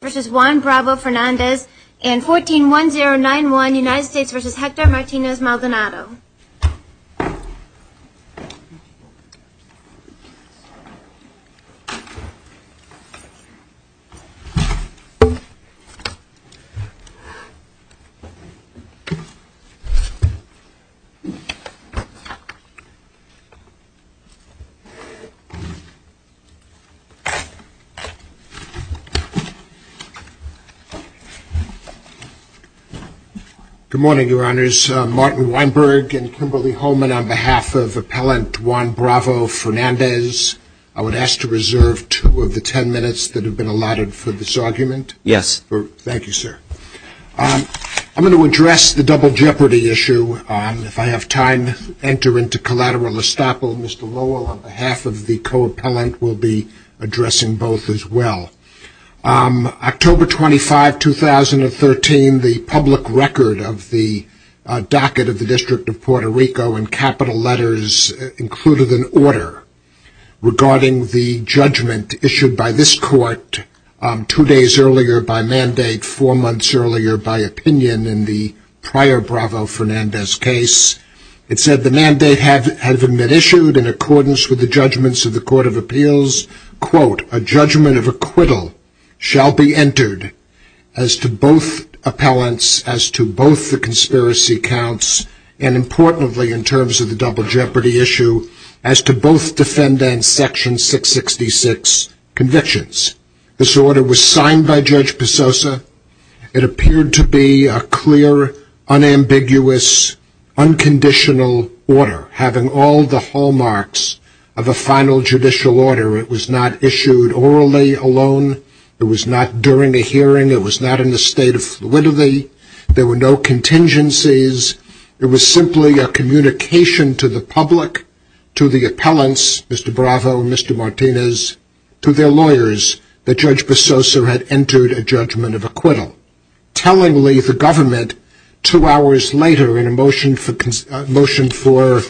and 141091 United States v. Hector Martinez Maldonado. Good morning, Your Honors. Martin Weinberg and Kimberly Holman on behalf of Appellant Juan Bravo-Fernandez. I would ask to reserve two of the ten minutes that have been allotted for this argument. Yes. Thank you, sir. I'm going to address the double jeopardy issue. If I have time, enter into collateral estoppel. Mr. Lowell on behalf of the co-appellant will be addressing both as well. October 25, 2013, the public record of the docket of the District of Puerto Rico in capital letters included an order regarding the judgment issued by this court two days earlier by mandate, four months earlier by opinion in the prior Bravo-Fernandez case. It said the mandate having been issued in accordance with the judgments of the Court of Appeals, quote, a judgment of acquittal shall be entered as to both appellants, as to both the conspiracy counts, and importantly in terms of the double jeopardy issue, as to both defendants section 666 convictions. This order was signed by Judge Pesosa. It appeared to be a clear, unambiguous, unconditional order having all the hallmarks of a final judicial order. It was not issued orally alone. It was not during a hearing. It was not in the state of fluidity. There were no contingencies. It was simply a communication to the public, to the appellants, Mr. Bravo and Mr. Martinez, to their lawyers that Judge Pesosa had entered a judgment of acquittal. Tellingly, the government two hours later in a motion for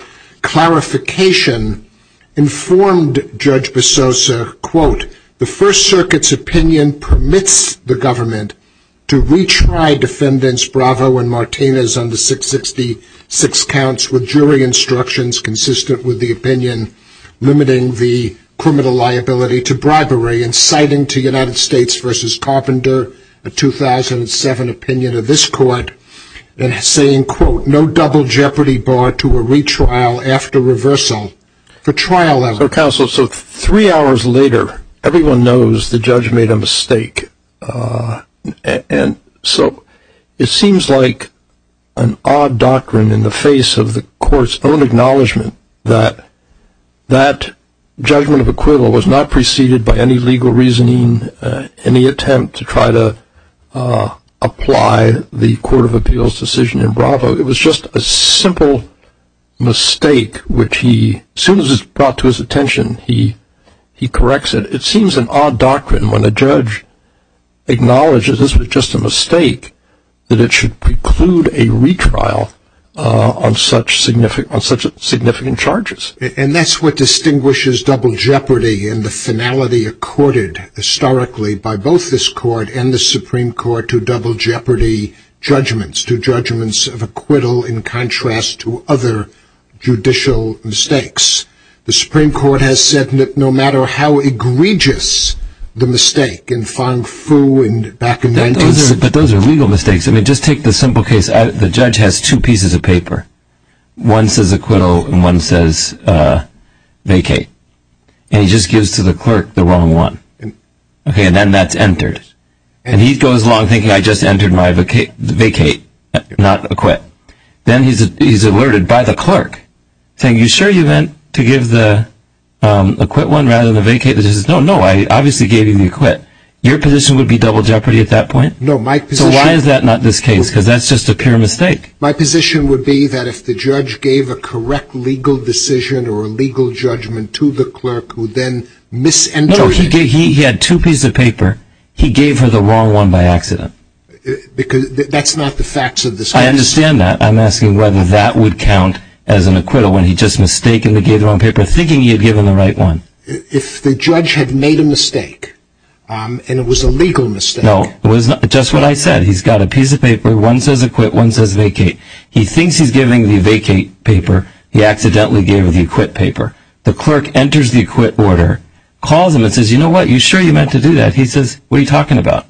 clarification informed Judge Pesosa, quote, the First Circuit's opinion permits the government to retry defendants Bravo and Martinez on the 666 counts with jury instructions consistent with the opinion limiting the criminal liability to bribery and citing to United States v. Carpenter a 2007 opinion of this court and saying, quote, no double jeopardy bar to a retrial after reversal. The trial as counseled. So three hours later, everyone knows the judge made a mistake. And so it seems like an odd doctrine in the face of the court's own acknowledgement that that judgment of acquittal was not preceded by any legal reasoning, any attempt to try to apply the Court of Appeals decision in just a simple mistake, which he, as soon as it's brought to his attention, he corrects it. It seems an odd doctrine when a judge acknowledges this was just a mistake, that it should preclude a retrial on such significant charges. And that's what distinguishes double jeopardy and the finality accorded historically by both this court and the Supreme Court to the judgments of acquittal in contrast to other judicial mistakes. The Supreme Court has said that no matter how egregious the mistake in farm food and back in those, but those are legal mistakes. I mean, just take the simple case. The judge has two pieces of paper. One says acquittal and one says vacate. And he just gives to the clerk the wrong one. Okay. And then that's entered. And he goes along thinking I just entered my vacate, not acquit. Then he's alerted by the clerk saying, you sure you meant to give the acquit one rather than the vacate? He says no, no, I obviously gave you the acquit. Your position would be double jeopardy at that point? So why is that not this case? Because that's just a pure mistake. My position would be that if the judge gave a correct legal decision or a legal judgment to the clerk who then misenters it. No, he had two pieces of paper. He gave her the wrong one by accident. Because that's not the facts of this. I understand that. I'm asking whether that would count as an acquittal when he just mistakenly gave the wrong paper thinking he had given the right one. If the judge had made a mistake and it was a legal mistake. No, it was just what I said. He's got a piece of paper. One says acquit. One says vacate. He thinks he's giving the vacate paper. He accidentally gave him the acquit paper. The clerk enters the acquit order, calls him and says, you know what, you sure you meant to do that? He says, what are you talking about?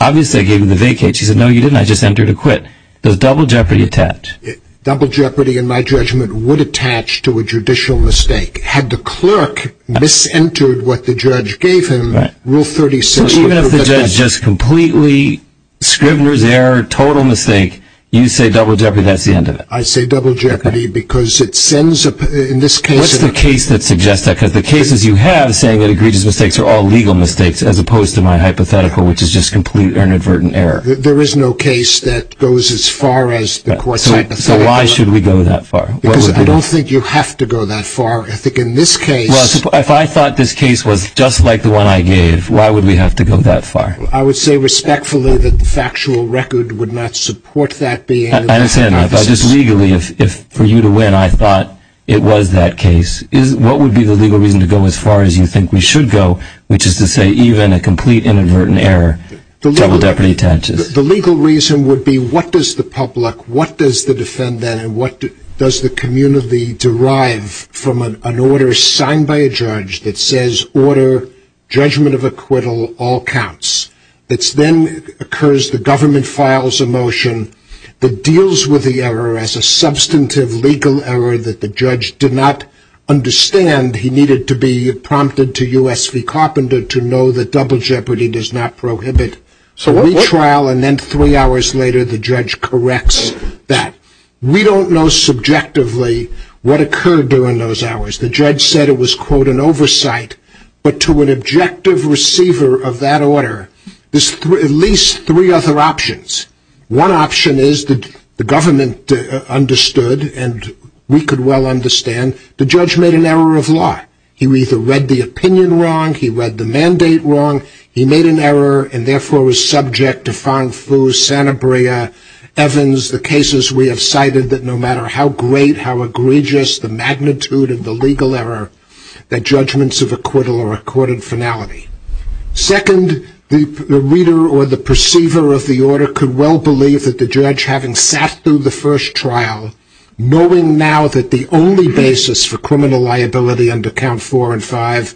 Obviously, I gave him the vacate. She said, no, you didn't. I just entered acquit. Does double jeopardy attach? Double jeopardy in my judgment would attach to a judicial mistake. Had the clerk misentered what the judge gave him, rule 36. So even if the judge just completely Scrivener's error, total mistake, you say double jeopardy, that's the end of it. I say double jeopardy because it sends, in this case. What's the case that suggests that? Because the cases you have saying that egregious mistakes are all legal mistakes as opposed to my hypothetical, which is just complete inadvertent error. There is no case that goes as far as the court. So why should we go that far? Because I don't think you have to go that far. I think in this case, if I thought this case was just like the one I gave, why would we have to go that far? I would say respectfully that the factual record would not support that being. I understand that. But just legally, if for you to win, I thought it was that case, what would be the legal reason to go as far as you think we should go, which is to say even a complete inadvertent error, double jeopardy attaches? The legal reason would be what does the public, what does the defendant, and what does the community derive from an order signed by a judge that says order, judgment of acquittal, all counts? It then occurs the government files a motion that deals with the error as substantive legal error that the judge did not understand he needed to be prompted to U.S. v. Carpenter to know that double jeopardy does not prohibit retrial and then three hours later the judge corrects that. We don't know subjectively what occurred during those hours. The judge said it was quote an oversight, but to an objective receiver of that order, there's at least three other options. One option is that the government understood and we could well understand the judge made an error of law. He either read the opinion wrong, he read the mandate wrong, he made an error and therefore was subject to Sanabria, Evans, the cases we have cited that no matter how great, how egregious the magnitude of the reader or the perceiver of the order could well believe that the judge having sat through the first trial knowing now that the only basis for criminal liability under count four and five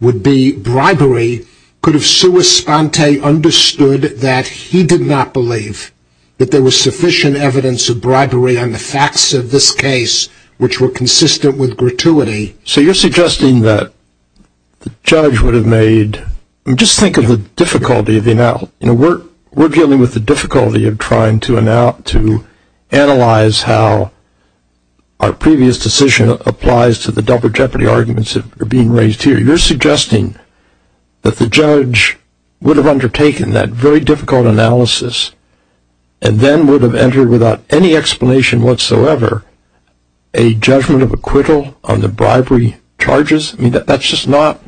would be bribery could have sui sponte understood that he did not believe that there was sufficient evidence of bribery on the facts of this case which were consistent with gratuity. So you're suggesting that the judge would have made, just think of the difficulty, we're dealing with the difficulty of trying to analyze how our previous decision applies to the double jeopardy arguments that are being raised here. You're suggesting that the judge would have undertaken that very difficult analysis and then would have entered without any explanation whatsoever a judgment of acquittal on the bribery charges? I mean, that's just not,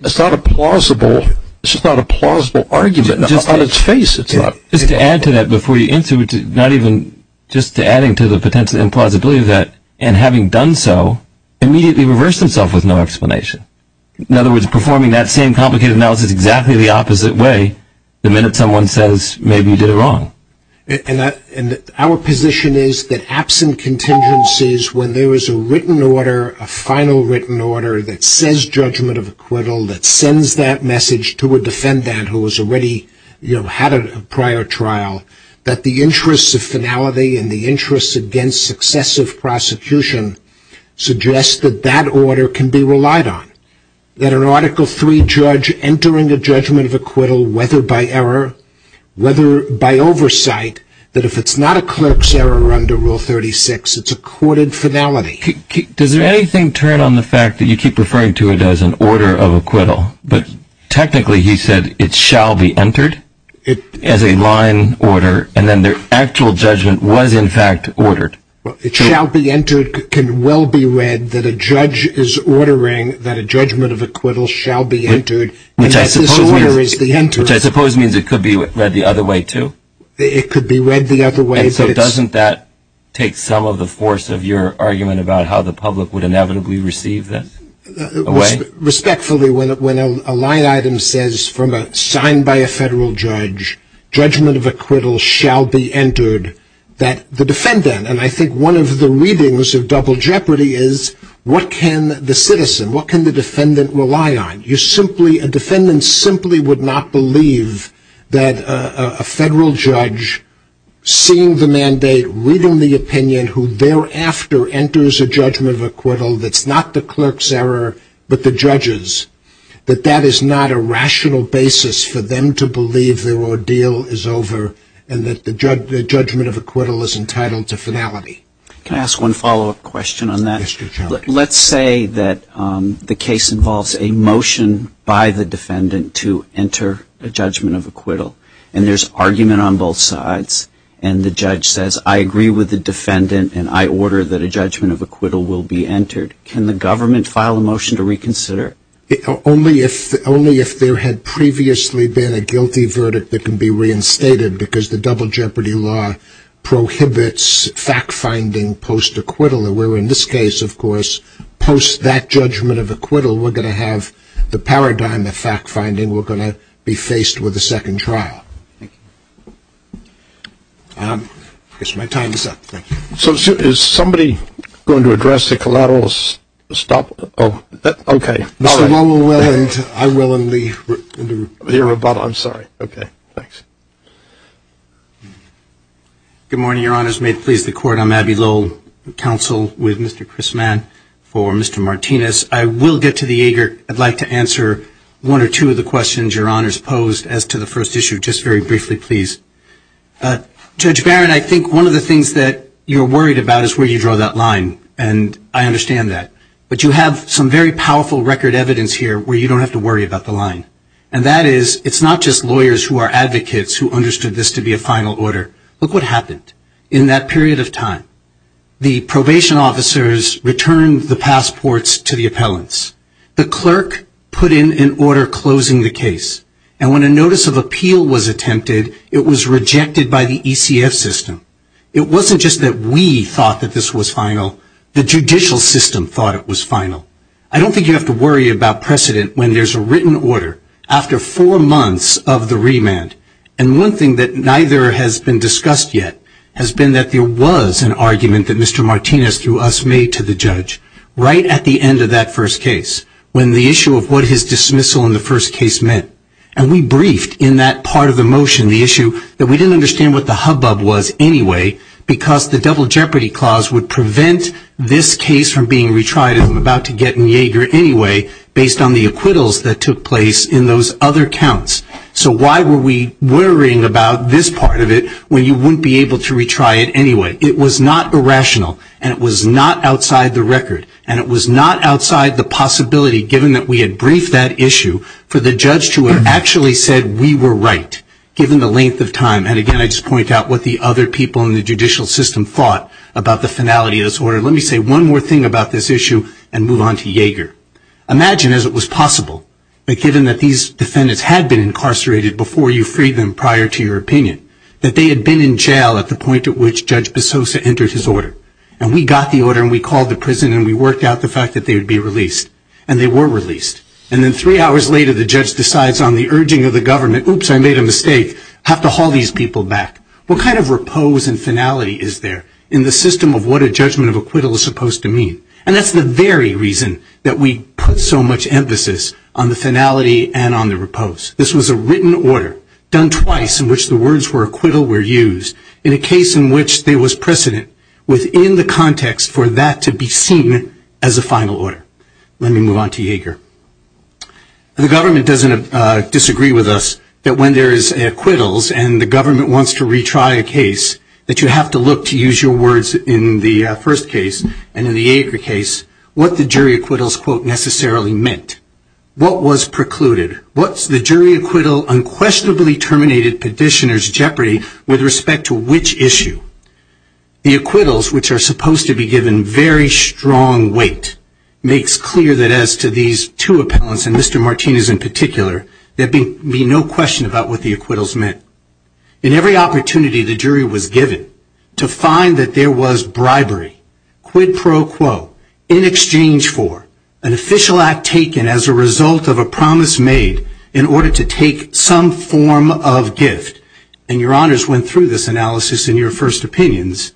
it's not a plausible, it's just not a plausible argument on its face. Just to add to that before you answer, not even, just adding to the potential implausibility of that and having done so immediately reversed himself with no explanation. In other words, performing that same complicated analysis exactly the opposite way the minute someone says maybe you did it wrong. And our position is that absent contingencies when there is a written order, a final written order that says judgment of acquittal, that sends that message to a defendant who has already, you know, had a prior trial, that the interests of finality and the interests against successive prosecution suggest that that order can be relied on. That an Article III judge entering a judgment of acquittal, whether by error, whether by oversight, that if it's not a clerk's error under Rule 36, it's a courted finality. Does anything turn on the fact that you keep referring to it as an order of acquittal, but technically he said it shall be entered as a line order and then their actual judgment was in fact ordered? Well, it shall be entered, can well be read that a judge is ordering that a judgment of acquittal shall be entered. Which I suppose means it could be read the other way too? It could be read the other way. And so doesn't that take some of the force of your argument about how the public would inevitably receive this? Respectfully, when a line item says from a signed by a federal judge, judgment of acquittal shall be entered, that the defendant, and I think one of the readings of double jeopardy is what can the citizen, what can the defendant rely on? A defendant simply would not believe that a federal judge seeing the mandate, reading the opinion, who thereafter enters a judgment of acquittal that's not the clerk's error, but the judge's, that that is not a rational basis for them to believe their ordeal is over and that the judgment of acquittal is entitled to finality. Can I ask one follow up question on that? Let's say that the case involves a motion by the defendant to enter a judgment of acquittal. And there's argument on both sides. And the judge says, I agree with the defendant and I order that a judgment of acquittal will be entered. Can the government file a motion to reconsider? Only if only if there had previously been a guilty verdict that can be reinstated because the double jeopardy law prohibits fact-finding post-acquittal. Where in this case, of course, post that judgment of acquittal, we're going to have the paradigm of fact-finding. We're going to be faced with a second trial. I guess my time is up. Thank you. So is somebody going to address the collateral stop? Oh, okay. I will only hear about, I'm sorry. Okay. Thanks. Good morning, your honors. May it please the court. I'm Abby Lowell, counsel with Mr. Chris Mann for Mr. Martinez. I will get to the ager. I'd like to answer one or two of the questions your honors posed as to the first issue, just very briefly, please. Judge Barron, I think one of the things that you're worried about is where you draw that line. And I understand that. But you have some very powerful record evidence here where you don't have to worry about the line. And that is, it's not just lawyers who are advocates who understood this to be a final order. Look what happened in that period of time. The probation officers returned the passports to the appellants. The clerk put in an order closing the case. And when a notice of appeal was attempted, it was rejected by the ECF system. It wasn't just that we thought that this was final, the judicial system thought it was final. I don't think you have to worry about precedent when there's a written order after four months of the remand. And one thing that neither has been discussed yet has been that there was an argument that Mr. Martinez, through us, made to the judge right at the end of that first case when the issue of what his dismissal in the first case meant. And we briefed in that part of the motion the issue that we didn't understand what the hubbub was anyway because the double jeopardy clause would prevent this case from being retried as we're about to get in Yeager anyway based on the acquittals that took place in those other counts. So why were we worrying about this part of it when you wouldn't be able to retry it anyway? It was not irrational. And it was not outside the record. And it was not outside the possibility, given that we had briefed that issue, for the judge to have actually said we were right, given the length of time. And again, I just point out what the other people in the judicial system thought about the finality of this order. Let me say one more thing about this issue and move on to Yeager. Imagine, as it was possible, that given that these defendants had been incarcerated before you freed them prior to your opinion, that they had been in jail at the point at which Judge Bessosa entered his order. And we got the order, and we called the prison, and we worked out the fact that they would be released. And they were released. And then three hours later, the judge decides on the urging of the government, oops, I made a mistake, have to haul these people back. What kind of repose and finality is there in the system of what a judgment of acquittal is supposed to mean? And that's the very reason that we put so much emphasis on the finality and on the repose. This was a written order, done twice, in which the words for acquittal were used in a case in which there was precedent within the context for that to be seen as a final order. Let me move on to Yeager. The government doesn't disagree with us that when there is acquittals and the government wants to retry a case, that you have to look to the first case, and in the Yeager case, what the jury acquittals quote necessarily meant. What was precluded? What's the jury acquittal unquestionably terminated petitioner's jeopardy with respect to which issue? The acquittals, which are supposed to be given very strong weight, makes clear that as to these two appellants, and Mr. Martinez in particular, there'd be no question about what the acquittals meant. In every opportunity the jury was given to find that there was bribery, quid pro quo, in exchange for an official act taken as a result of a promise made in order to take some form of gift. And your honors went through this analysis in your first opinions.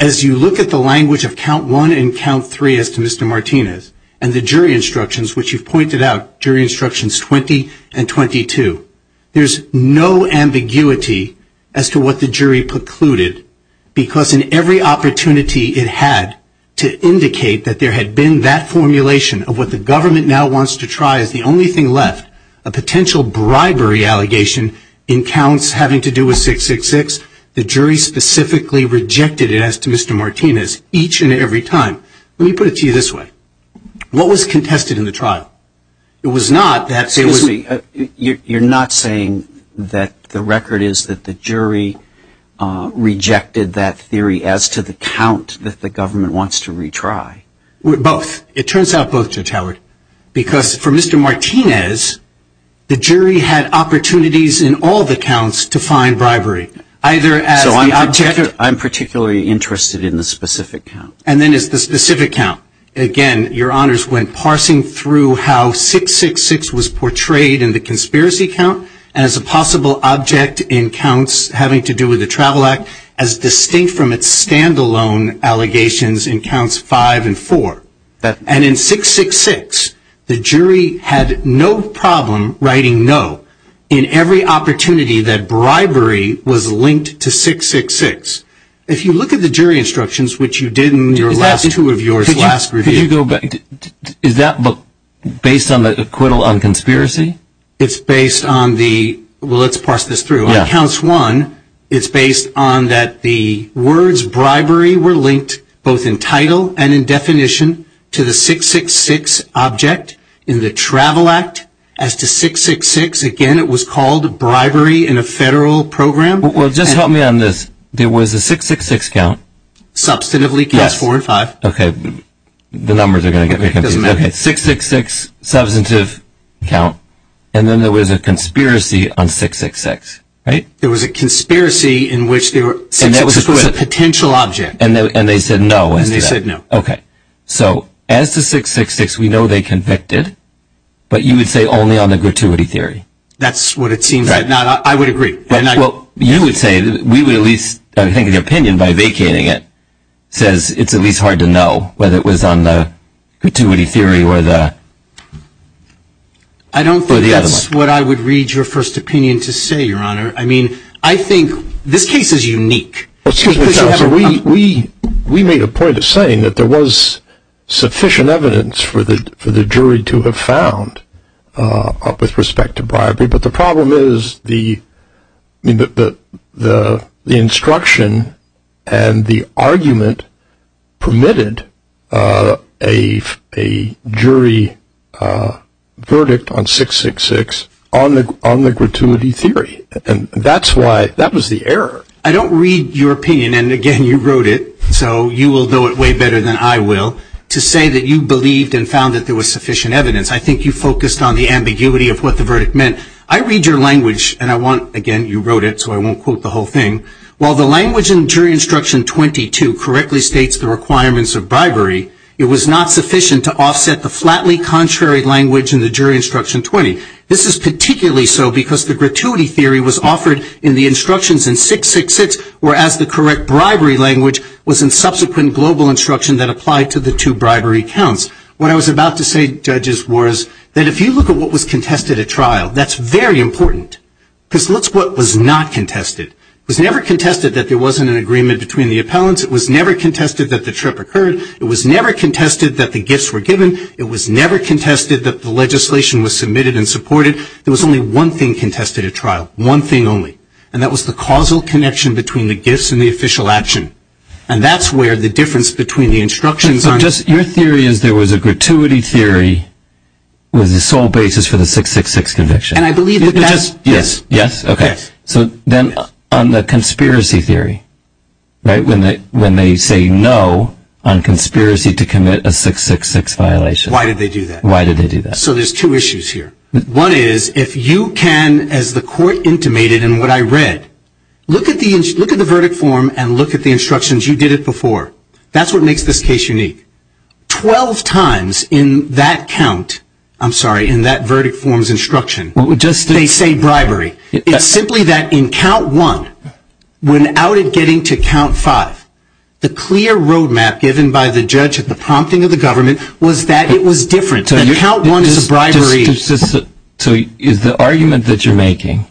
As you look at the language of count one and count three as to Mr. Martinez, and the jury instructions, which you've pointed out, jury instructions 20 and 22, there's no ambiguity as to what the jury precluded. Because in every opportunity it had to indicate that there had been that formulation of what the government now wants to try as the only thing left, a potential bribery allegation in counts having to do with 666, the jury specifically rejected it as to Mr. Martinez each and every time. Let me put it to you this way. What was contested in the trial? It was not that... Excuse me. You're not saying that the record is that the jury rejected that theory as to the count that the government wants to retry? Both. It turns out both, Judge Howard. Because for Mr. Martinez, the jury had opportunities in all the counts to find bribery. So I'm particularly interested in the specific count. And then it's the specific count. Again, your honors went parsing through how 666 was portrayed in the conspiracy count as a possible object in counts having to do with the Travel Act, as distinct from its standalone allegations in counts five and four. And in 666, the jury had no problem writing no in every opportunity that bribery was linked to 666. If you look at the last two of yours, last review... Is that based on the acquittal on conspiracy? It's based on the... Well, let's parse this through. On counts one, it's based on that the words bribery were linked both in title and in definition to the 666 object in the Travel Act as to 666. Again, it was called bribery in a federal program. Well, just help me on this. There was a 666 count. Substantively counts four and five. Okay. The numbers are going to get me confused. Okay. 666, substantive count. And then there was a conspiracy on 666, right? There was a conspiracy in which there was a potential object. And they said no. And they said no. Okay. So as to 666, we know they convicted, but you would say only on the gratuity theory. That's what it seems like. Now, I would agree. Well, you would say that we would at least... I think the opinion by vacating it says it's at least hard to know whether it was on the gratuity theory or the... I don't think that's what I would read your first opinion to say, Your Honor. I mean, I think this case is unique. We made a point of saying that there was sufficient evidence for the jury to have found with respect to bribery. But the problem is the instruction and the argument permitted a jury verdict on 666 on the gratuity theory. And that's why... That was the error. I don't read your opinion. And again, you wrote it. So you will know it way better than I will to say that you believed and found that there was sufficient evidence. I think you focused on the ambiguity of what the verdict meant. I read your language, and I want... Again, you wrote it, so I won't quote the whole thing. While the language in jury instruction 22 correctly states the requirements of bribery, it was not sufficient to offset the flatly contrary language in the jury instruction 20. This is particularly so because the gratuity theory was offered in the instructions in 666, whereas the correct bribery language was in subsequent global instruction that applied to the two bribery counts. What I was about to say, judges, was that if you look at what was contested at trial, that's very important. Because let's look at what was not contested. It was never contested that there wasn't an agreement between the appellants. It was never contested that the trip occurred. It was never contested that the gifts were given. It was never contested that the legislation was submitted and supported. There was only one thing contested at trial, one thing only. And that was the causal connection between the gifts and the official action. And that's where the difference between the instructions... Was a gratuity theory was the sole basis for the 666 conviction. And I believe that that's... Yes. Yes. Okay. So then on the conspiracy theory, right, when they say no on conspiracy to commit a 666 violation... Why did they do that? Why did they do that? So there's two issues here. One is, if you can, as the court intimated in what I read, look at the verdict form and look at the instructions. You did it before. That's what makes this case unique. Twelve times in that count, I'm sorry, in that verdict form's instruction, they say bribery. It's simply that in count one, when outed getting to count five, the clear roadmap given by the judge at the prompting of the government was that it was different. And count one is a bribery. So is the argument that you're making,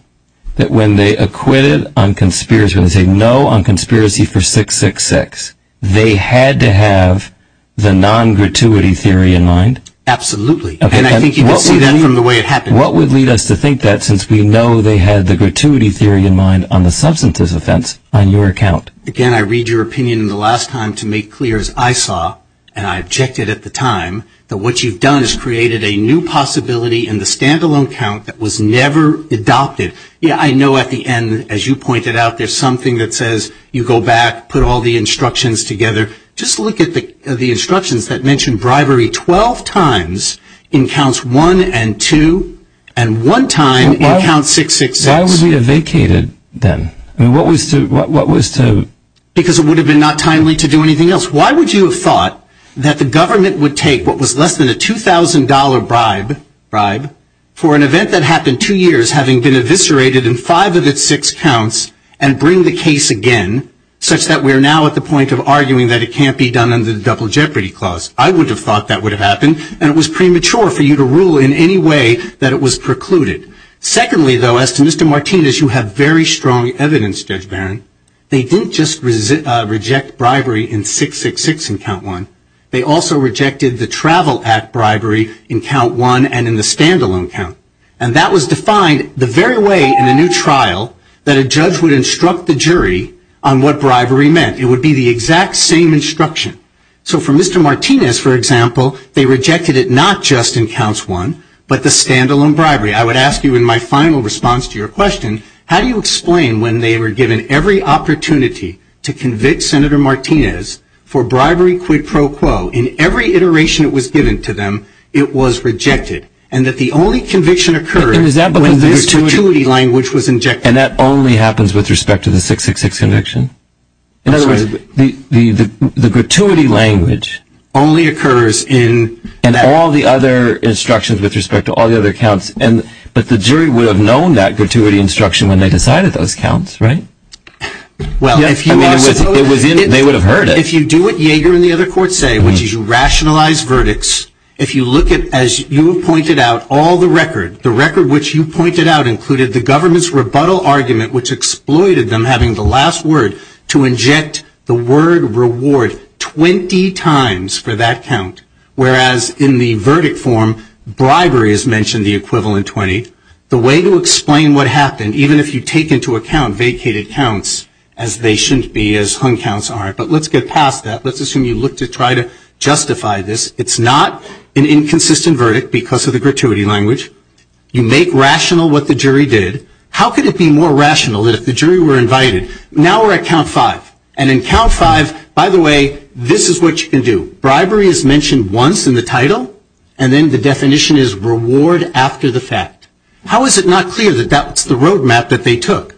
that when they acquitted on conspiracy, when they say no on conspiracy for 666, they had to have the non-gratuity theory in mind? Absolutely. And I think you can see that from the way it happened. What would lead us to think that since we know they had the gratuity theory in mind on the substantive offense on your account? Again, I read your opinion in the last time to make clear as I saw, and I objected at the time, that what you've done is created a new possibility in the standalone account that was never adopted. Yeah, I know at the end, as you pointed out, there's something that says you go back, put all the instructions together. Just look at the instructions that mention bribery 12 times in counts one and two, and one time in count 666. Why would we have vacated then? What was to... Because it would have been not timely to do anything else. Why would you have thought that the government would take what was less than a $2,000 bribe for an event that happened two years having been eviscerated in five of its six counts and bring the case again, such that we're now at the point of arguing that it can't be done under the Double Jeopardy Clause? I would have thought that would have happened, and it was premature for you to rule in any way that it was precluded. Secondly, though, as to Mr. Martinez, you have very strong evidence, Judge Barron. They didn't just reject bribery in 666 in count one. They also rejected the Travel Act bribery in count one and in the standalone count, and that was defined the very way in a new trial that a judge would instruct the jury on what bribery meant. It would be the exact same instruction. So for Mr. Martinez, for example, they rejected it not just in counts one, but the standalone bribery. I would ask you in my final response to your question, how do you explain when they were given every opportunity to convict Senator Martinez for bribery quid pro quo, in every iteration it was given to them, it was rejected, and that the only conviction occurred when this gratuity language was injected? And that only happens with respect to the 666 conviction? I'm sorry. In other words, the gratuity language... Only occurs in... And all the other instructions with respect to all the other counts, but the jury would have known that gratuity instruction when they decided those counts, right? Well, if you... They would have heard it. If you do what Yeager and the other courts say, which is you rationalize verdicts, if you look at, as you have pointed out, all the record, the record which you pointed out included the government's rebuttal argument, which exploited them having the last word to inject the word reward 20 times for that count, whereas in the verdict form, bribery is mentioned the equivalent 20. The way to explain what happened, even if you take into account vacated counts as they shouldn't be, as hung counts aren't. But let's get past that. Let's assume you look to try to justify this. It's not an inconsistent verdict because of the gratuity language. You make rational what the jury did. How could it be more rational that if the jury were invited... Now we're at count five. And in count five, by the way, this is what you can do. Bribery is mentioned once in the title, and then the definition is reward after the fact. How is it not clear that that's the roadmap that they took?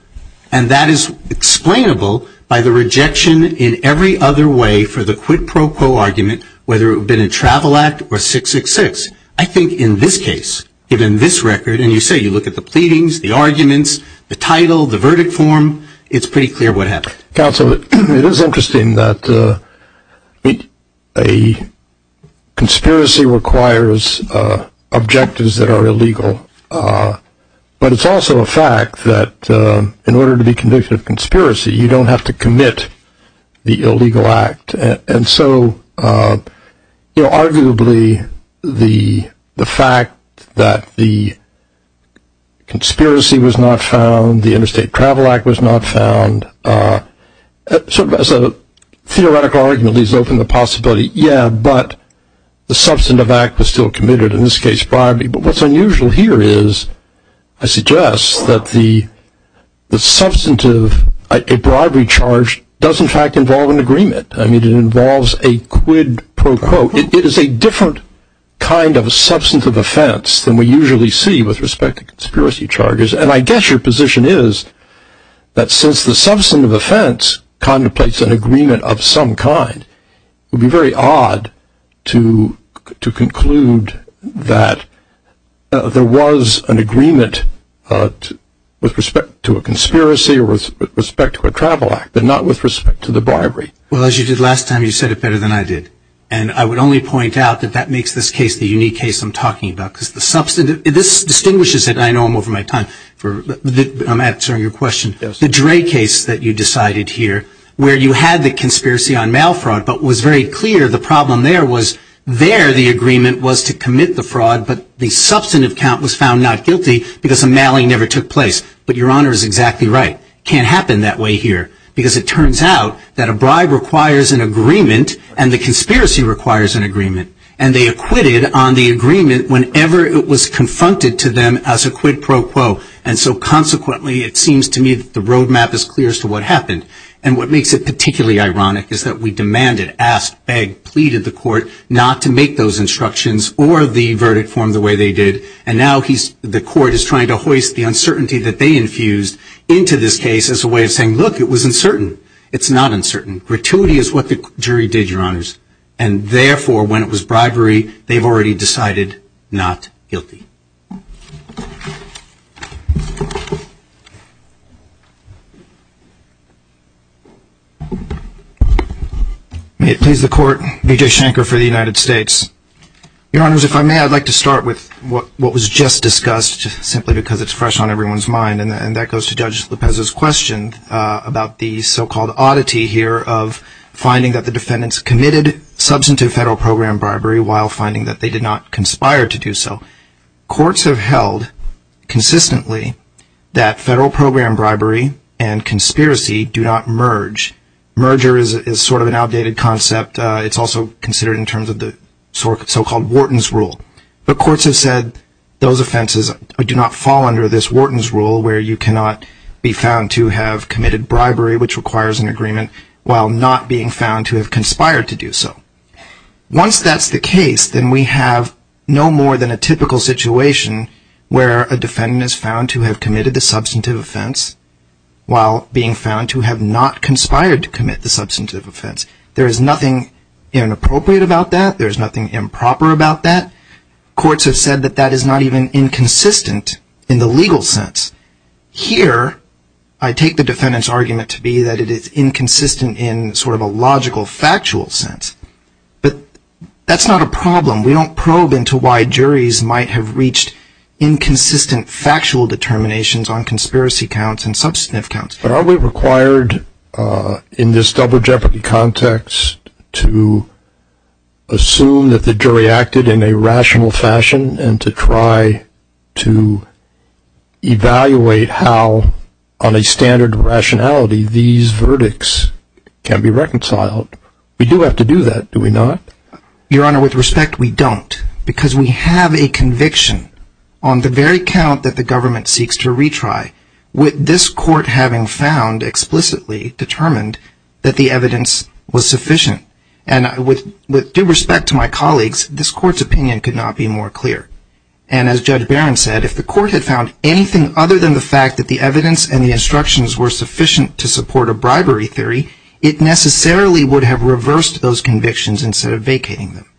And that is explainable by the rejection in every other way for the quid pro quo argument, whether it had been a travel act or 666. I think in this case, given this record, and you say you look at the pleadings, the arguments, the title, the verdict form, it's pretty clear what happened. Counsel, it is interesting that a conspiracy requires objectives that are illegal. But it's also a fact that in order to be convicted of conspiracy, you don't have to commit the illegal act. And so arguably, the fact that the conspiracy was not found, the Interstate Travel Act was not found, sort of as a theoretical argument, at least open the possibility, yeah, but the substantive act was still committed, in this case, bribery. But what's unusual here is, I suggest that the substantive, a bribery charge does in fact involve an agreement. I mean, it involves a quid pro quo. It is a different kind of a substantive offense than we usually see with respect to conspiracy charges. And I guess your position is that since the substantive offense contemplates an agreement of some kind, it would be very odd to conclude that there was an agreement with respect to a conspiracy or with respect to a travel act, but not with respect to the bribery. Well, as you did last time, you said it better than I did. And I would only point out that that makes this case the unique case I'm talking about. This distinguishes it. I know I'm over my time. I'm answering your question. The Dre case that you decided here, where you had the conspiracy on mail fraud, but was very clear the problem there was there the agreement was to commit the fraud, but the substantive count was found not guilty because the mailing never took place. But your honor is exactly right. Can't happen that way here. and the conspiracy requires an agreement. And they acquitted on the agreement whenever it was confronted to them as a quid pro quo. And so consequently, it seems to me that the roadmap is clear as to what happened. And what makes it particularly ironic is that we demanded, asked, begged, pleaded the court not to make those instructions or the verdict form the way they did. And now the court is trying to hoist the uncertainty that they infused into this case as a way of saying, look, it was uncertain. It's not uncertain. Gratuity is what the jury did, your honors. And therefore, when it was bribery, they've already decided not guilty. May it please the court. Vijay Shankar for the United States. Your honors, if I may, I'd like to start with what was just discussed simply because it's fresh on everyone's mind. And that goes to Judge Lopez's question about the so-called oddity here of finding that the defendants committed substantive federal program bribery while finding that they did not conspire to do so. Courts have held consistently that federal program bribery and conspiracy do not merge. Merger is sort of an outdated concept. It's also considered in terms of the so-called Wharton's rule. But courts have said those offenses do not fall under this Wharton's rule where you cannot be found to have committed bribery, which requires an agreement, while not being found to have conspired to do so. Once that's the case, then we have no more than a typical situation where a defendant is found to have committed the substantive offense while being found to have not conspired to commit the substantive offense. There is nothing inappropriate about that. There's nothing improper about that. Courts have said that that is not even inconsistent in the legal sense. Here, I take the defendant's argument to be that it is inconsistent in sort of a logical factual sense. But that's not a problem. We don't probe into why juries might have reached inconsistent factual determinations on conspiracy counts and substantive counts. But are we required in this double jeopardy context to assume that the jury acted in a rational fashion and to try to evaluate how on a standard of rationality these verdicts can be reconciled? We do have to do that, do we not? Your Honor, with respect, we don't. Because we have a conviction on the very count that the government seeks to retry with this court having found explicitly determined that the evidence was sufficient. And with due respect to my colleagues, this court's opinion could not be more clear. And as Judge Barron said, if the court had found anything other than the fact that the evidence and the instructions were sufficient to support a bribery theory, it necessarily would have reversed those convictions instead of vacating them.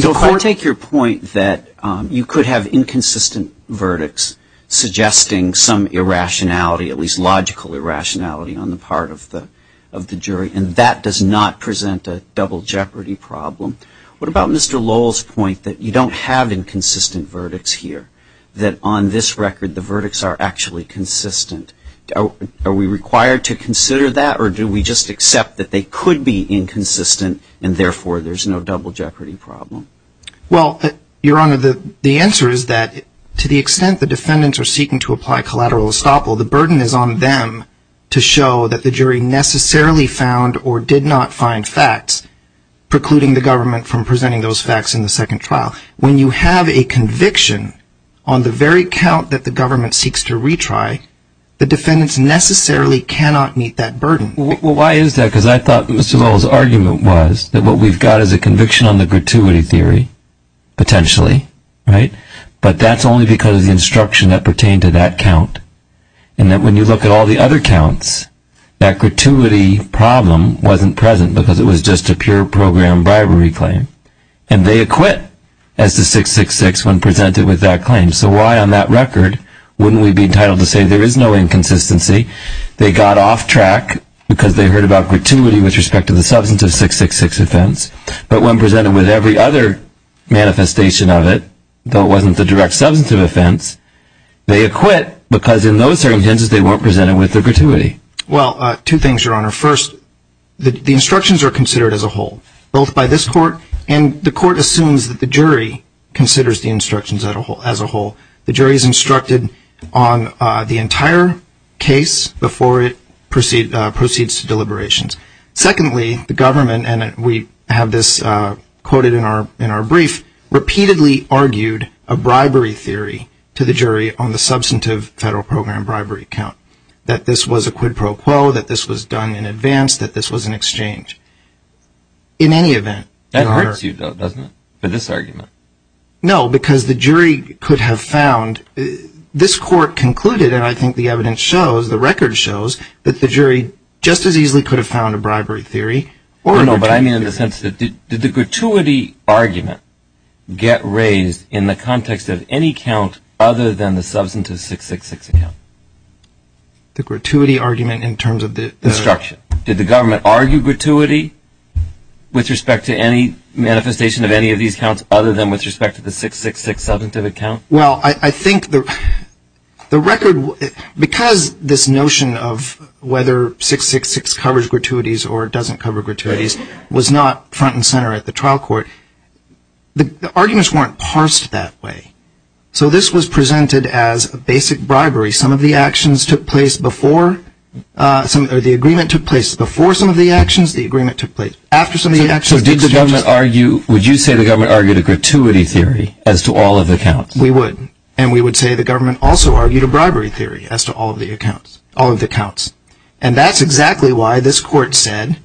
So if I take your point that you could have inconsistent verdicts suggesting some irrationality, at least logical irrationality, on the part of the jury, and that does not present a double jeopardy problem, what about Mr. Lowell's point that you don't have inconsistent verdicts here, that on this record the verdicts are actually consistent? Are we required to consider that? Or do we just accept that they could be inconsistent and therefore there's no double jeopardy problem? Well, Your Honor, the answer is that to the extent the defendants are seeking to apply collateral estoppel, the burden is on them to show that the jury necessarily found or did not find facts precluding the government from presenting those facts in the second trial. When you have a conviction on the very count that the government seeks to retry, the defendants necessarily cannot meet that burden. Well, why is that? Because I thought Mr. Lowell's argument was that what we've got is a conviction on the gratuity theory, potentially, right? But that's only because of the instruction that pertained to that count. And that when you look at all the other counts, that gratuity problem wasn't present because it was just a pure program bribery claim. And they acquit as to 666 when presented with that claim. So why on that record wouldn't we be entitled to say there is no inconsistency? They got off track because they heard about gratuity with respect to the substantive 666 offense. But when presented with every other manifestation of it, though it wasn't the direct substantive offense, they acquit because in those circumstances they weren't presented with the gratuity. Well, two things, Your Honor. First, the instructions are considered as a whole, both by this court and the court assumes that the jury considers the instructions as a whole. The jury is instructed on the entire case before it proceeds to deliberations. Secondly, the government, and we have this quoted in our brief, repeatedly argued a bribery theory to the jury on the substantive federal program bribery count. That this was a quid pro quo. That this was done in advance. That this was an exchange. In any event... That hurts you, though, doesn't it? For this argument. No, because the jury could have found... This court concluded, and I think the evidence shows, the record shows that the jury just as easily could have found a bribery theory. No, but I mean in the sense that did the gratuity argument get raised in the context of any count other than the substantive 666 account? The gratuity argument in terms of the... Instruction. Did the government argue gratuity with respect to any manifestation of any of these counts other than with respect to the 666 substantive account? Well, I think the record, because this notion of whether 666 covers gratuities or doesn't cover gratuities was not front and center at the trial court. The arguments weren't parsed that way. So this was presented as a basic bribery. Some of the actions took place before some of the agreement took place. Before some of the actions, the agreement took place. After some of the actions... So did the government argue... Would you say the government argued a gratuity theory as to all of the counts? We would. And we would say the government also argued a bribery theory as to all of the accounts. All of the counts. And that's exactly why this court said,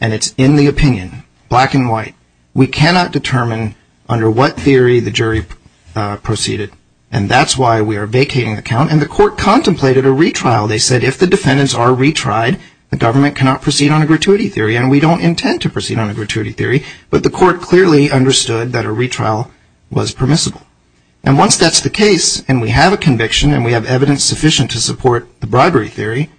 and it's in the opinion, black and white, we cannot determine under what theory the jury proceeded. And that's why we are vacating the count. And the court contemplated a retrial. They said if the defendants are retried, the government cannot proceed on a gratuity theory. And we don't intend to proceed on a gratuity theory. But the court clearly understood that a retrial was permissible. And once that's the case, and we have a conviction, and we have evidence sufficient to support the bribery theory,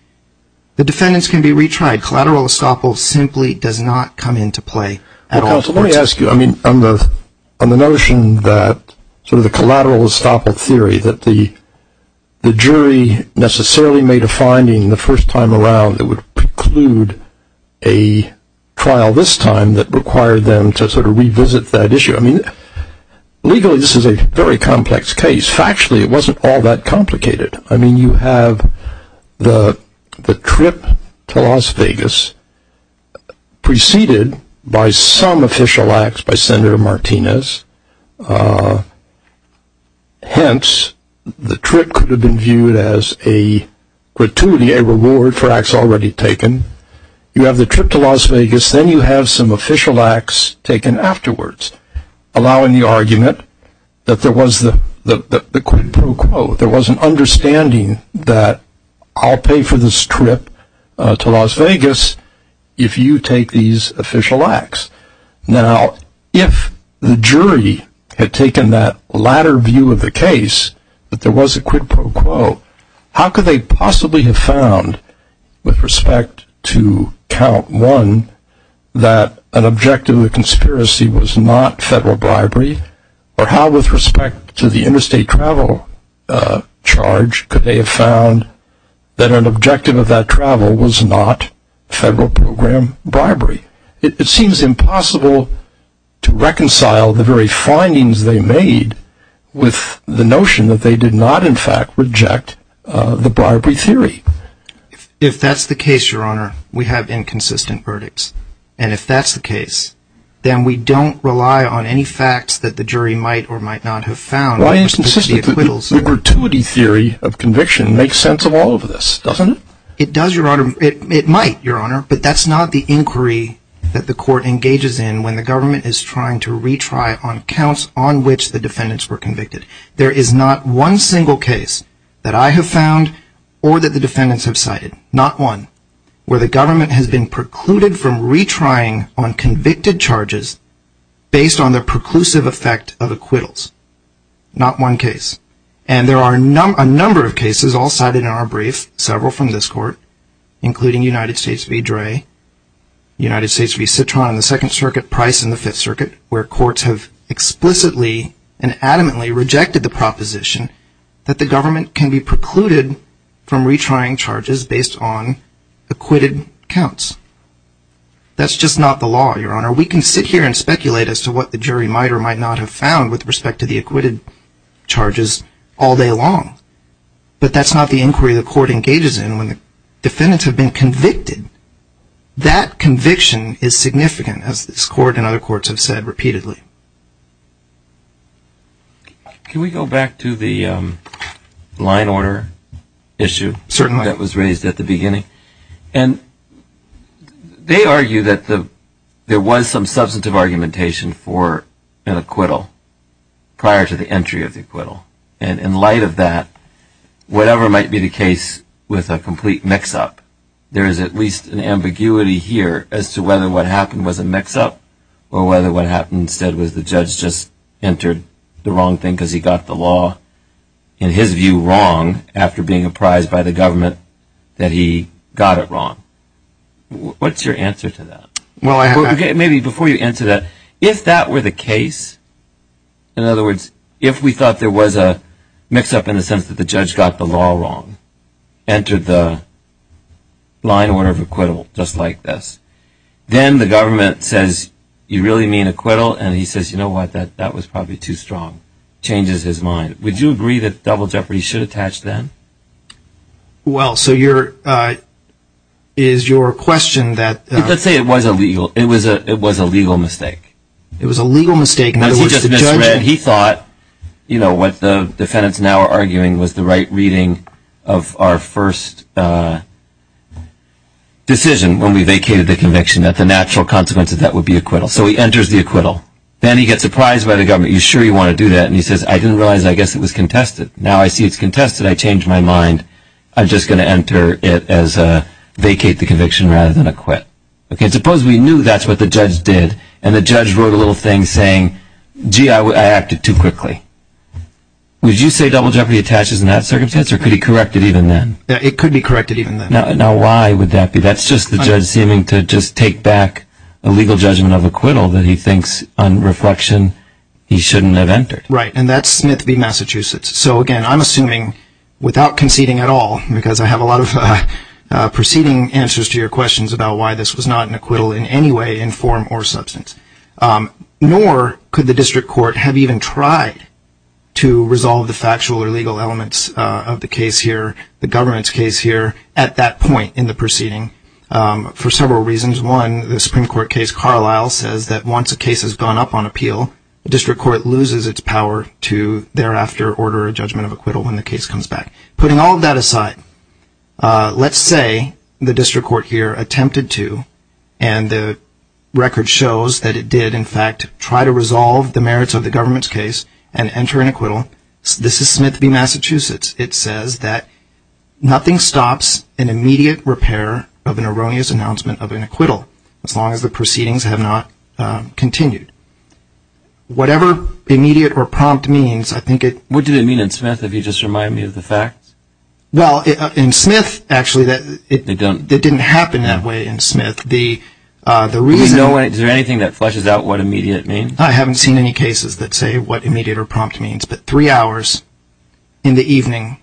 the defendants can be retried. Collateral estoppel simply does not come into play at all. Counsel, let me ask you. I mean, on the notion that sort of the collateral estoppel theory, that the jury necessarily made a finding the first time around that would preclude a trial this time that required them to sort of revisit that issue. I mean, legally, this is a very complex case. Factually, it wasn't all that complicated. I mean, you have the trip to Las Vegas preceded by some official acts by Senator Martinez. Hence, the trip could have been viewed as a gratuity, a reward for acts already taken. You have the trip to Las Vegas. Then you have some official acts taken afterwards, allowing the argument that there was the quid pro quo. There was an understanding that I'll pay for this trip to Las Vegas if you take these official acts. Now, if the jury had taken that latter view of the case, that there was a quid pro quo, how could they possibly have found, with respect to count one, that an objective of the conspiracy was not federal bribery? Or how, with respect to the interstate travel charge, could they have found that an objective of that travel was not federal program bribery? It seems impossible to reconcile the very findings they made with the notion that they did not, in fact, reject the bribery theory. If that's the case, Your Honor, we have inconsistent verdicts. And if that's the case, then we don't rely on any facts that the jury might or might not have found. Why inconsistent? The gratuity theory of conviction makes sense of all of this, doesn't it? It does, Your Honor. It might, Your Honor. But that's not the inquiry that the court engages in when the government is trying to retry on counts on which the defendants were convicted. There is not one single case that I have found, or that the defendants have cited, not one, where the government has been precluded from retrying on convicted charges based on the preclusive effect of acquittals. Not one case. And there are a number of cases all cited in our brief, several from this court, including United States v. Dray, United States v. Citron in the Second Circuit, Price in the Fifth Circuit, where courts have explicitly and adamantly rejected the proposition that the government can be precluded from retrying charges based on acquitted counts. That's just not the law, Your Honor. We can sit here and speculate as to what the jury might or might not have found with respect to the acquitted charges all day long. But that's not the inquiry the court engages in when the defendants have been convicted. That conviction is significant, as this court and other courts have said repeatedly. Can we go back to the line order issue that was raised at the beginning? And they argue that there was some substantive argumentation for an acquittal prior to the entry of the acquittal. And in light of that, whatever might be the case with a complete mix-up, there is at least an ambiguity here as to whether what happened was a mix-up or whether what happened instead was the judge just entered the wrong thing because he got the law, in his view, wrong after being apprised by the government that he got it wrong. What's your answer to that? Maybe before you answer that, if that were the case, in other words, if we thought there was a mix-up in the sense that the judge got the law wrong, entered the line order of acquittal just like this, then the government says, you really mean acquittal? And he says, you know what? That was probably too strong. Changes his mind. Would you agree that double jeopardy should attach then? Well, so is your question that... Let's say it was a legal mistake. It was a legal mistake. He thought what the defendants now are arguing was the right reading of our first decision when we vacated the conviction that the natural consequence of that would be acquittal. So he enters the acquittal. Then he gets apprised by the government. You sure you want to do that? And he says, I didn't realize I guess it was contested. Now I see it's contested. I changed my mind. I'm just going to enter it as a vacate the conviction rather than a quit. OK, suppose we knew that's what the judge did and the judge wrote a little thing saying, gee, I acted too quickly. Would you say double jeopardy attaches in that circumstance or could he correct it even then? It could be corrected even then. Now why would that be? That's just the judge seeming to just take back a legal judgment of acquittal that he thinks on reflection he shouldn't have entered. Right. And that's Smith v. Massachusetts. So again, I'm assuming without conceding at all, because I have a lot of proceeding answers to your questions about why this was not an acquittal in any way, in form, or substance. Nor could the district court have even tried to resolve the factual or legal elements of the case here, the government's case here, at that point in the proceeding for several reasons. One, the Supreme Court case Carlisle says that once a case has gone up on appeal, the district court loses its power to thereafter order a judgment of acquittal when the case comes back. Putting all of that aside, let's say the district court here attempted to and the record shows that it did, in fact, try to resolve the merits of the government's case and enter an acquittal. This is Smith v. Massachusetts. It says that nothing stops an immediate repair of an erroneous announcement of an acquittal, as long as the proceedings have not continued. Whatever immediate or prompt means, I think it... What did it mean in Smith if you just remind me of the facts? Well, in Smith, actually, it didn't happen that way in Smith. Do you know, is there anything that fleshes out what immediate means? I haven't seen any cases that say what immediate or prompt means. But three hours in the evening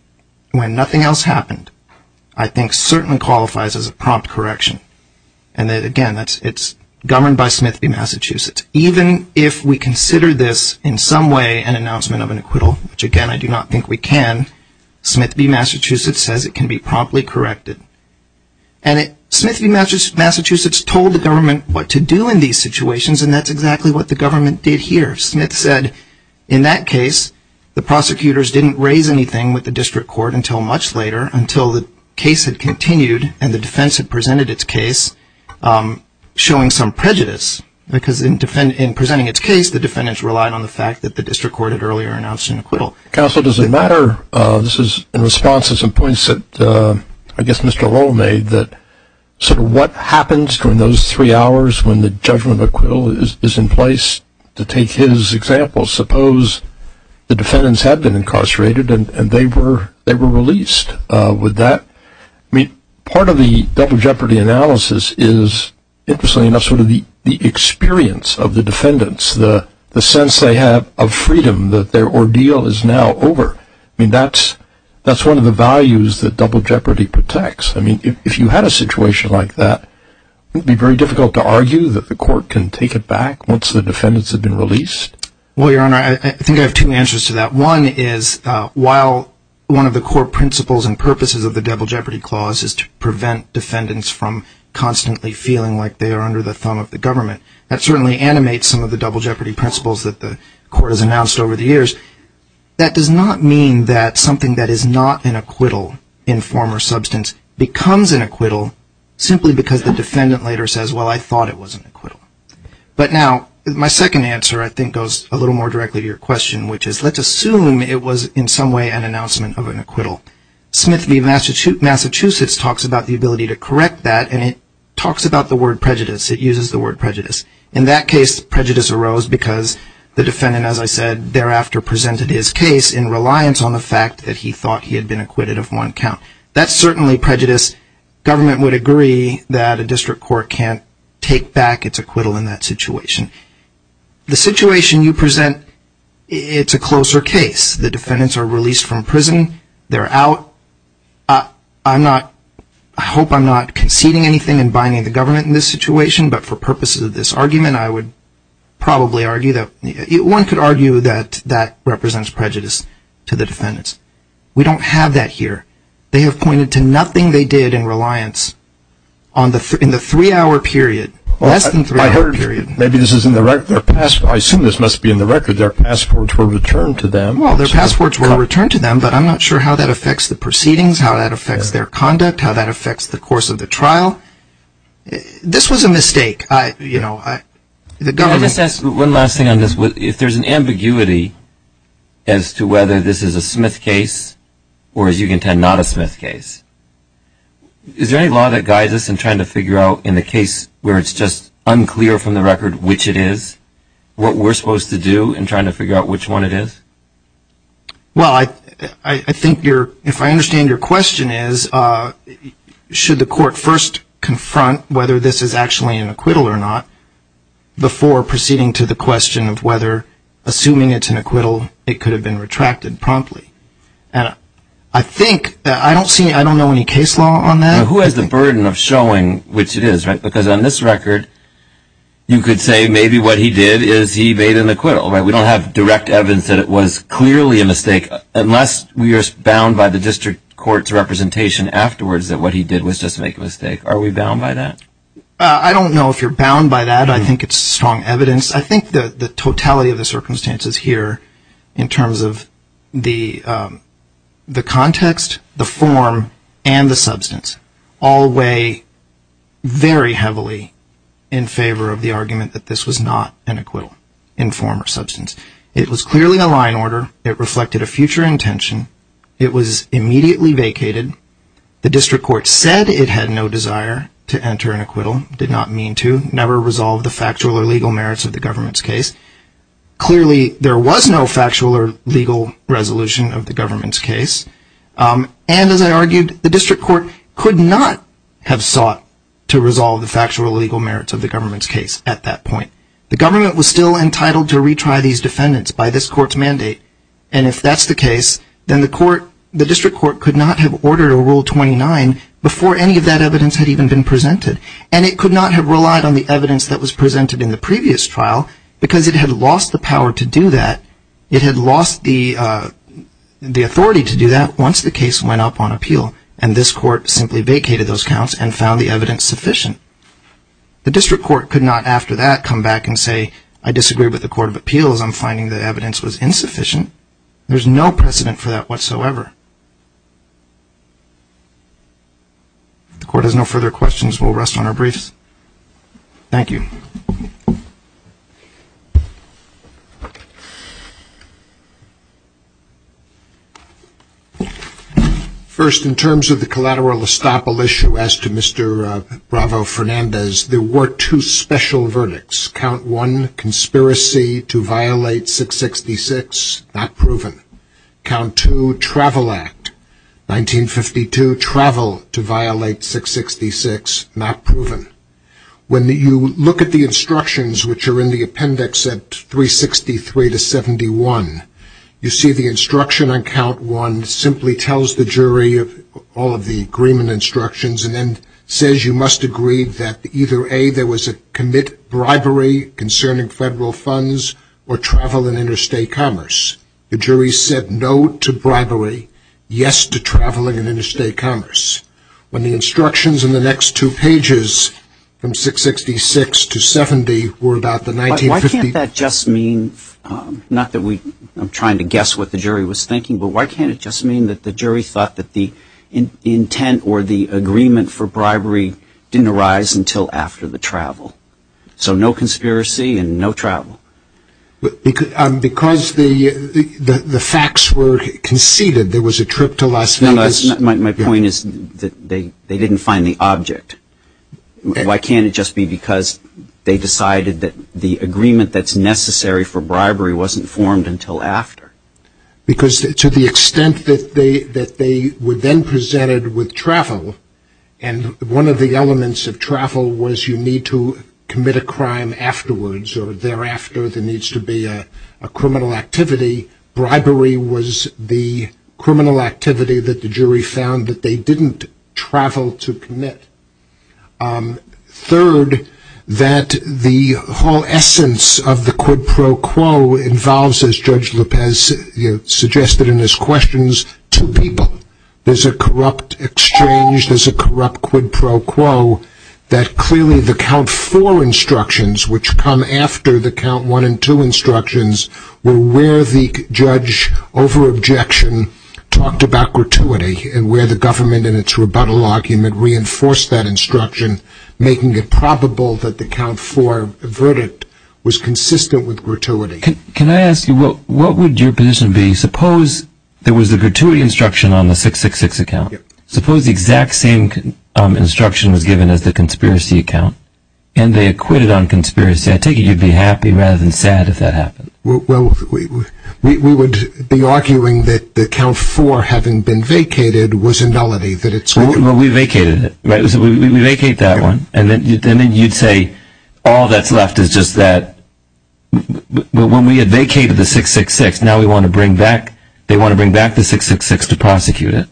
when nothing else happened, I think certainly qualifies as a prompt correction. And that, again, it's governed by Smith v. Massachusetts. Even if we consider this in some way an announcement of an acquittal, which, again, I do not think we can, Smith v. Massachusetts says it can be promptly corrected. And Smith v. Massachusetts told the government what to do in these situations and that's exactly what the government did here. Smith said in that case, the prosecutors didn't raise anything with the district court until much later, until the case had continued and the defense had presented its case showing some prejudice. Because in presenting its case, the defendants relied on the fact that the district court had earlier announced an acquittal. Counsel, does it matter... This is in response to some points that I guess Mr. Lowell made, that sort of what happens during those three hours when the judgment of acquittal is in place, to take his example, suppose the defendants had been incarcerated and they were released with that. I mean, part of the double jeopardy analysis is, interestingly enough, sort of the experience of the defendants, the sense they have of freedom that their ordeal is now over. I mean, that's one of the values that double jeopardy protects. I mean, if you had a situation like that, would it be very difficult to argue that the court can take it back once the defendants have been released? Well, Your Honor, I think I have two answers to that. One is, while one of the core principles and purposes of the double jeopardy clause is to prevent defendants from constantly feeling like they are under the thumb of the government, that certainly animates some of the double jeopardy principles that the court has announced over the years. That does not mean that something that is not an acquittal in form or substance becomes an acquittal simply because the defendant later says, well, I thought it was an acquittal. But now, my second answer, I think, goes a little more directly to your question, which is, let's assume it was in some way an announcement of an acquittal. Smith v. Massachusetts talks about the ability to correct that, and it talks about the word prejudice. It uses the word prejudice. In that case, prejudice arose because the defendant, as I said, thereafter presented his case in reliance on the fact that he thought he had been acquitted of one count. That's certainly prejudice. Government would agree that a district court can't take back its acquittal in that situation. The situation you present, it's a closer case. The defendants are released from prison. They're out. I hope I'm not conceding anything and binding the government in this situation, but for purposes of this argument, I would probably argue that one could argue that that represents prejudice to the defendants. We don't have that here. They have pointed to nothing they did in reliance in the three-hour period, less than three-hour period. Maybe this is in the record. I assume this must be in the record. Their passports were returned to them. Well, their passports were returned to them, but I'm not sure how that affects the proceedings, how that affects their conduct, how that affects the course of the trial. This was a mistake. The government— Let me just ask one last thing on this. If there's an ambiguity as to whether this is a Smith case or, as you contend, not a Smith case, is there any law that guides us in trying to figure out in the case where it's just unclear from the record which it is, what we're supposed to do in trying to figure out which one it is? Well, I think you're— If I understand your question is, should the court first confront whether this is actually an acquittal or not before proceeding to the question of whether, assuming it's an acquittal, it could have been retracted promptly? And I think— I don't see—I don't know any case law on that. Who has the burden of showing which it is, right? Because on this record, you could say maybe what he did is he made an acquittal, right? We don't have direct evidence that it was clearly a mistake unless we are bound by the district court's representation afterwards that what he did was just make a mistake. Are we bound by that? I don't know if you're bound by that. I think it's strong evidence. I think the totality of the circumstances here in terms of the context, the form, and the substance all weigh very heavily in favor of the argument that this was not an acquittal in form or substance. It was clearly a line order. It reflected a future intention. It was immediately vacated. The district court said it had no desire to enter an acquittal, did not mean to, never resolved the factual or legal merits of the government's case. Clearly, there was no factual or legal resolution of the government's case. And as I argued, the district court could not have sought to resolve the factual or legal merits of the government's case at that point. The government was still entitled to retry these defendants by this court's mandate. And if that's the case, then the court, the district court could not have ordered a Rule 29 before any of that evidence had even been presented. And it could not have relied on the evidence that was presented in the previous trial because it had lost the power to do that. It had lost the authority to do that once the case went up on appeal. And this court simply vacated those counts and found the evidence sufficient. The district court could not, after that, come back and say, I disagree with the Court of Appeals. I'm finding the evidence was insufficient. There's no precedent for that whatsoever. If the court has no further questions, we'll rest on our briefs. Thank you. First, in terms of the collateral estoppel issue, as to Mr. Bravo-Fernandez, there were two special verdicts. Count 1, conspiracy to violate 666, not proven. Count 2, Travel Act 1952, travel to violate 666, not proven. When you look at the instructions, which are in the appendix at 363 to 71, you see the instruction on count 1 simply tells the jury of all of the agreement instructions and then says you must agree that either A, there was a commit bribery concerning federal funds or travel and interstate commerce. The jury said no to bribery, yes to travel and interstate commerce. When the instructions in the next two pages from 666 to 70 were about the 1950- Why can't that just mean, not that I'm trying to guess what the jury was thinking, but why can't it just mean that the jury thought that the intent or the agreement for bribery didn't arise until after the travel? So no conspiracy and no travel. Because the facts were conceded, there was a trip to Las Vegas- My point is that they didn't find the object. Why can't it just be because they decided that the agreement that's necessary for bribery wasn't formed until after? Because to the extent that they were then presented with travel and one of the elements of travel was you need to commit a crime afterwards or thereafter there needs to be a criminal activity, bribery was the criminal activity that the jury found that they didn't travel to commit. Third, that the whole essence of the quid pro quo involves, as Judge Lopez suggested in his questions, two people. There's a corrupt exchange, there's a corrupt quid pro quo, that clearly the count four instructions, which come after the count one and two instructions, were where the judge over objection talked about gratuity and where the government in its rebuttal argument reinforced that instruction, making it probable that the count four verdict was consistent with gratuity. Can I ask you, what would your position be, suppose there was a gratuity instruction on the 666 account, suppose the exact same instruction was given as the conspiracy account and they acquitted on conspiracy, I take it you'd be happy rather than sad if that happened? Well, we would be arguing that the count four having been vacated was a nullity. Well, we vacated it, we vacate that one and then you'd say all that's left is just that when we had vacated the 666, now we want to bring back, they want to bring back the 666 to prosecute it.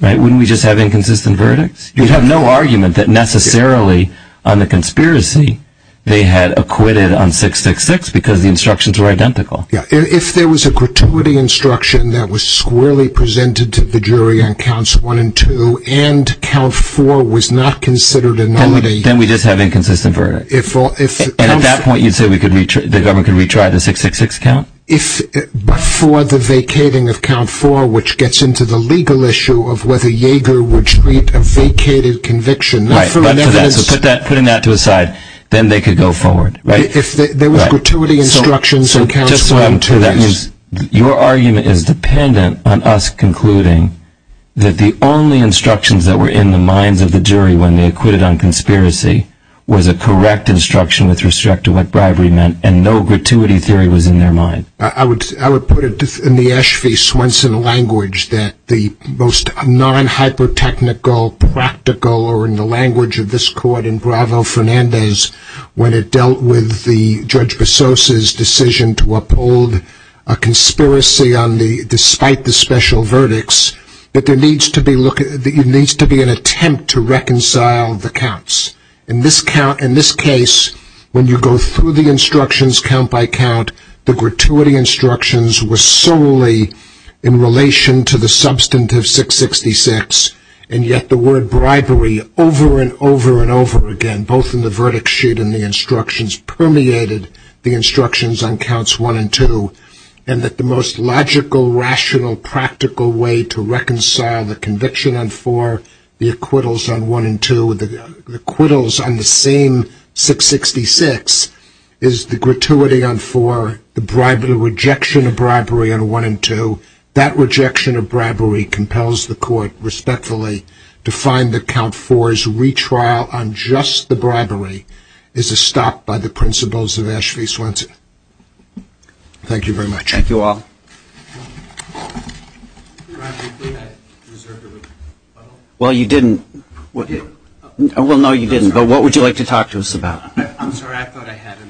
Wouldn't we just have inconsistent verdicts? You'd have no argument that necessarily on the conspiracy they had acquitted on 666 because the instructions were identical. Yeah, if there was a gratuity instruction that was squarely presented to the jury on counts one and two and count four was not considered a nullity, then we just have inconsistent verdict. And at that point you'd say the government could retry the 666 count? If before the vacating of count four, which gets into the legal issue of whether Yeager would treat a vacated conviction. Right, so putting that to a side, then they could go forward, right? If there was gratuity instructions on counts one and two, that means... Your argument is dependent on us concluding that the only instructions that were in the minds of the jury when they acquitted on conspiracy was a correct instruction with respect to what bribery meant and no gratuity theory was in their mind. I would put it in the Ashby-Swenson language that the most non-hyper-technical, practical, or in the language of this court in Bravo-Fernandez, when it dealt with Judge Besos' decision to uphold a conspiracy despite the special verdicts, that there needs to be an attempt to reconcile the counts. In this case, when you go through the instructions count by count, the gratuity instructions were solely in relation to the substantive 666, and yet the word bribery, over and over and over again, both in the verdict sheet and the instructions, permeated the instructions on counts one and two, and that the most logical, rational, practical way to reconcile the conviction on four, the acquittals on one and two, the acquittals on the same 666 is the gratuity on four, the rejection of bribery on one and two. That rejection of bribery compels the court respectfully to find that count four's retrial on just the bribery is a stop by the principles of Ashby Swenson. Thank you very much. Thank you all. Well, you didn't. Well, no, you didn't, but what would you like to talk to us about? I'm sorry, I thought I had it.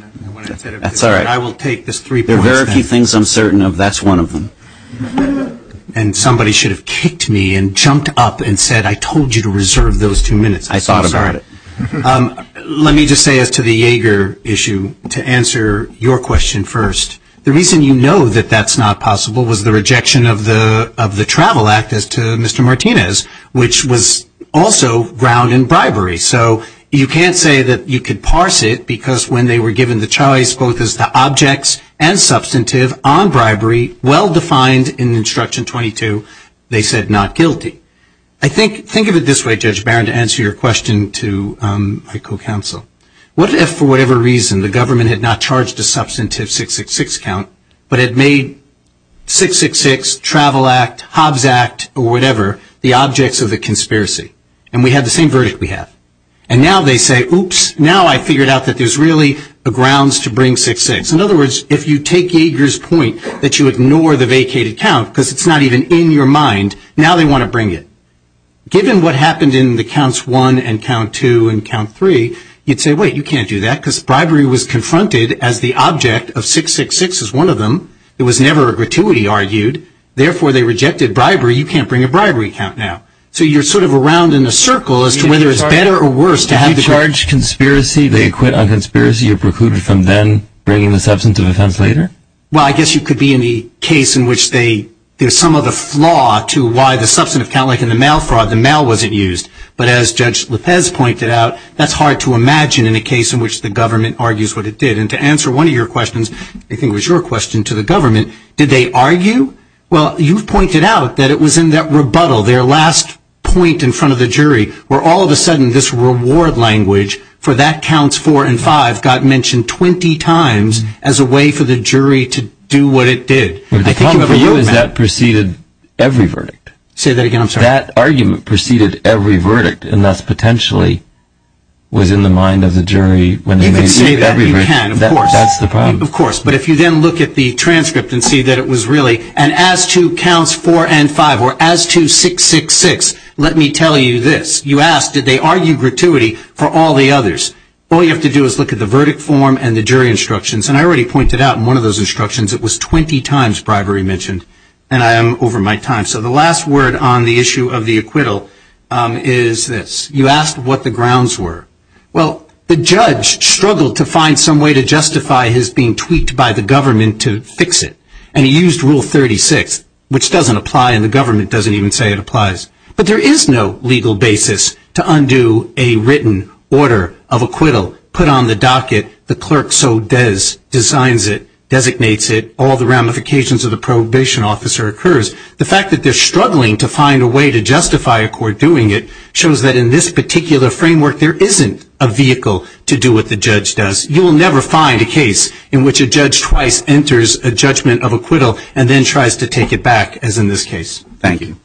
That's all right. I will take this three points. There are very few things I'm certain of, that's one of them. And somebody should have kicked me and jumped up and said, I told you to reserve those two minutes. I thought about it. Let me just say as to the Yeager issue, to answer your question first, the reason you know that that's not possible was the rejection of the travel act as to Mr. Martinez, which was also ground in bribery. So you can't say that you could parse it because when they were given the choice, both as the objects and substantive on bribery, well-defined in instruction 22, they said not guilty. I think think of it this way, to answer your question to my co-counsel. What if, for whatever reason, the government had not charged a substantive 666 count, but it made 666, Travel Act, Hobbs Act, or whatever, the objects of the conspiracy. And we had the same verdict we have. And now they say, oops, now I figured out that there's really grounds to bring 666. In other words, if you take Yeager's point that you ignore the vacated count because it's not even in your mind, now they want to bring it. Given what happened in the counts 1 and count 2 and count 3, you'd say, wait, you can't do that because bribery was confronted as the object of 666 is one of them. It was never a gratuity argued. Therefore, they rejected bribery. You can't bring a bribery count now. So you're sort of around in a circle as to whether it's better or worse to have the charge. If you charge conspiracy, they acquit on conspiracy, you're precluded from then bringing the substantive offense later? Well, I guess you could be in the case in which there's some of the flaw to why the substantive count, like in the mail fraud, the mail wasn't used. But as Judge Lopez pointed out, that's hard to imagine in a case in which the government argues what it did. And to answer one of your questions, I think it was your question to the government, did they argue? Well, you've pointed out that it was in that rebuttal, their last point in front of the jury where all of a sudden, this reward language for that counts 4 and 5 got mentioned 20 times as a way for the jury to do what it did. The problem for you is that preceded every verdict. Say that again, I'm sorry. That argument preceded every verdict and thus potentially was in the mind of the jury when they made every verdict. That's the problem. Of course. But if you then look at the transcript and see that it was really an as to counts 4 and 5 or as to 666, let me tell you this. You ask, did they argue gratuity for all the others? All you have to do is look at the verdict form and the jury instructions. And I already pointed out in one of those instructions, it was 20 times bribery mentioned. And I am over my time. So the last word on the issue of the acquittal is this. You asked what the grounds were. Well, the judge struggled to find some way to justify his being tweaked by the government to fix it. And he used rule 36, which doesn't apply and the government doesn't even say it applies. But there is no legal basis to undo a written order of acquittal, put on the docket, the clerk so does, designs it, designates it, all the ramifications of the probation officer occurs. The fact that they're struggling to find a way to justify a court doing it shows that in this particular framework, there isn't a vehicle to do what the judge does. You will never find a case in which a judge twice enters a judgment of acquittal and then tries to take it back as in this case. Thank you.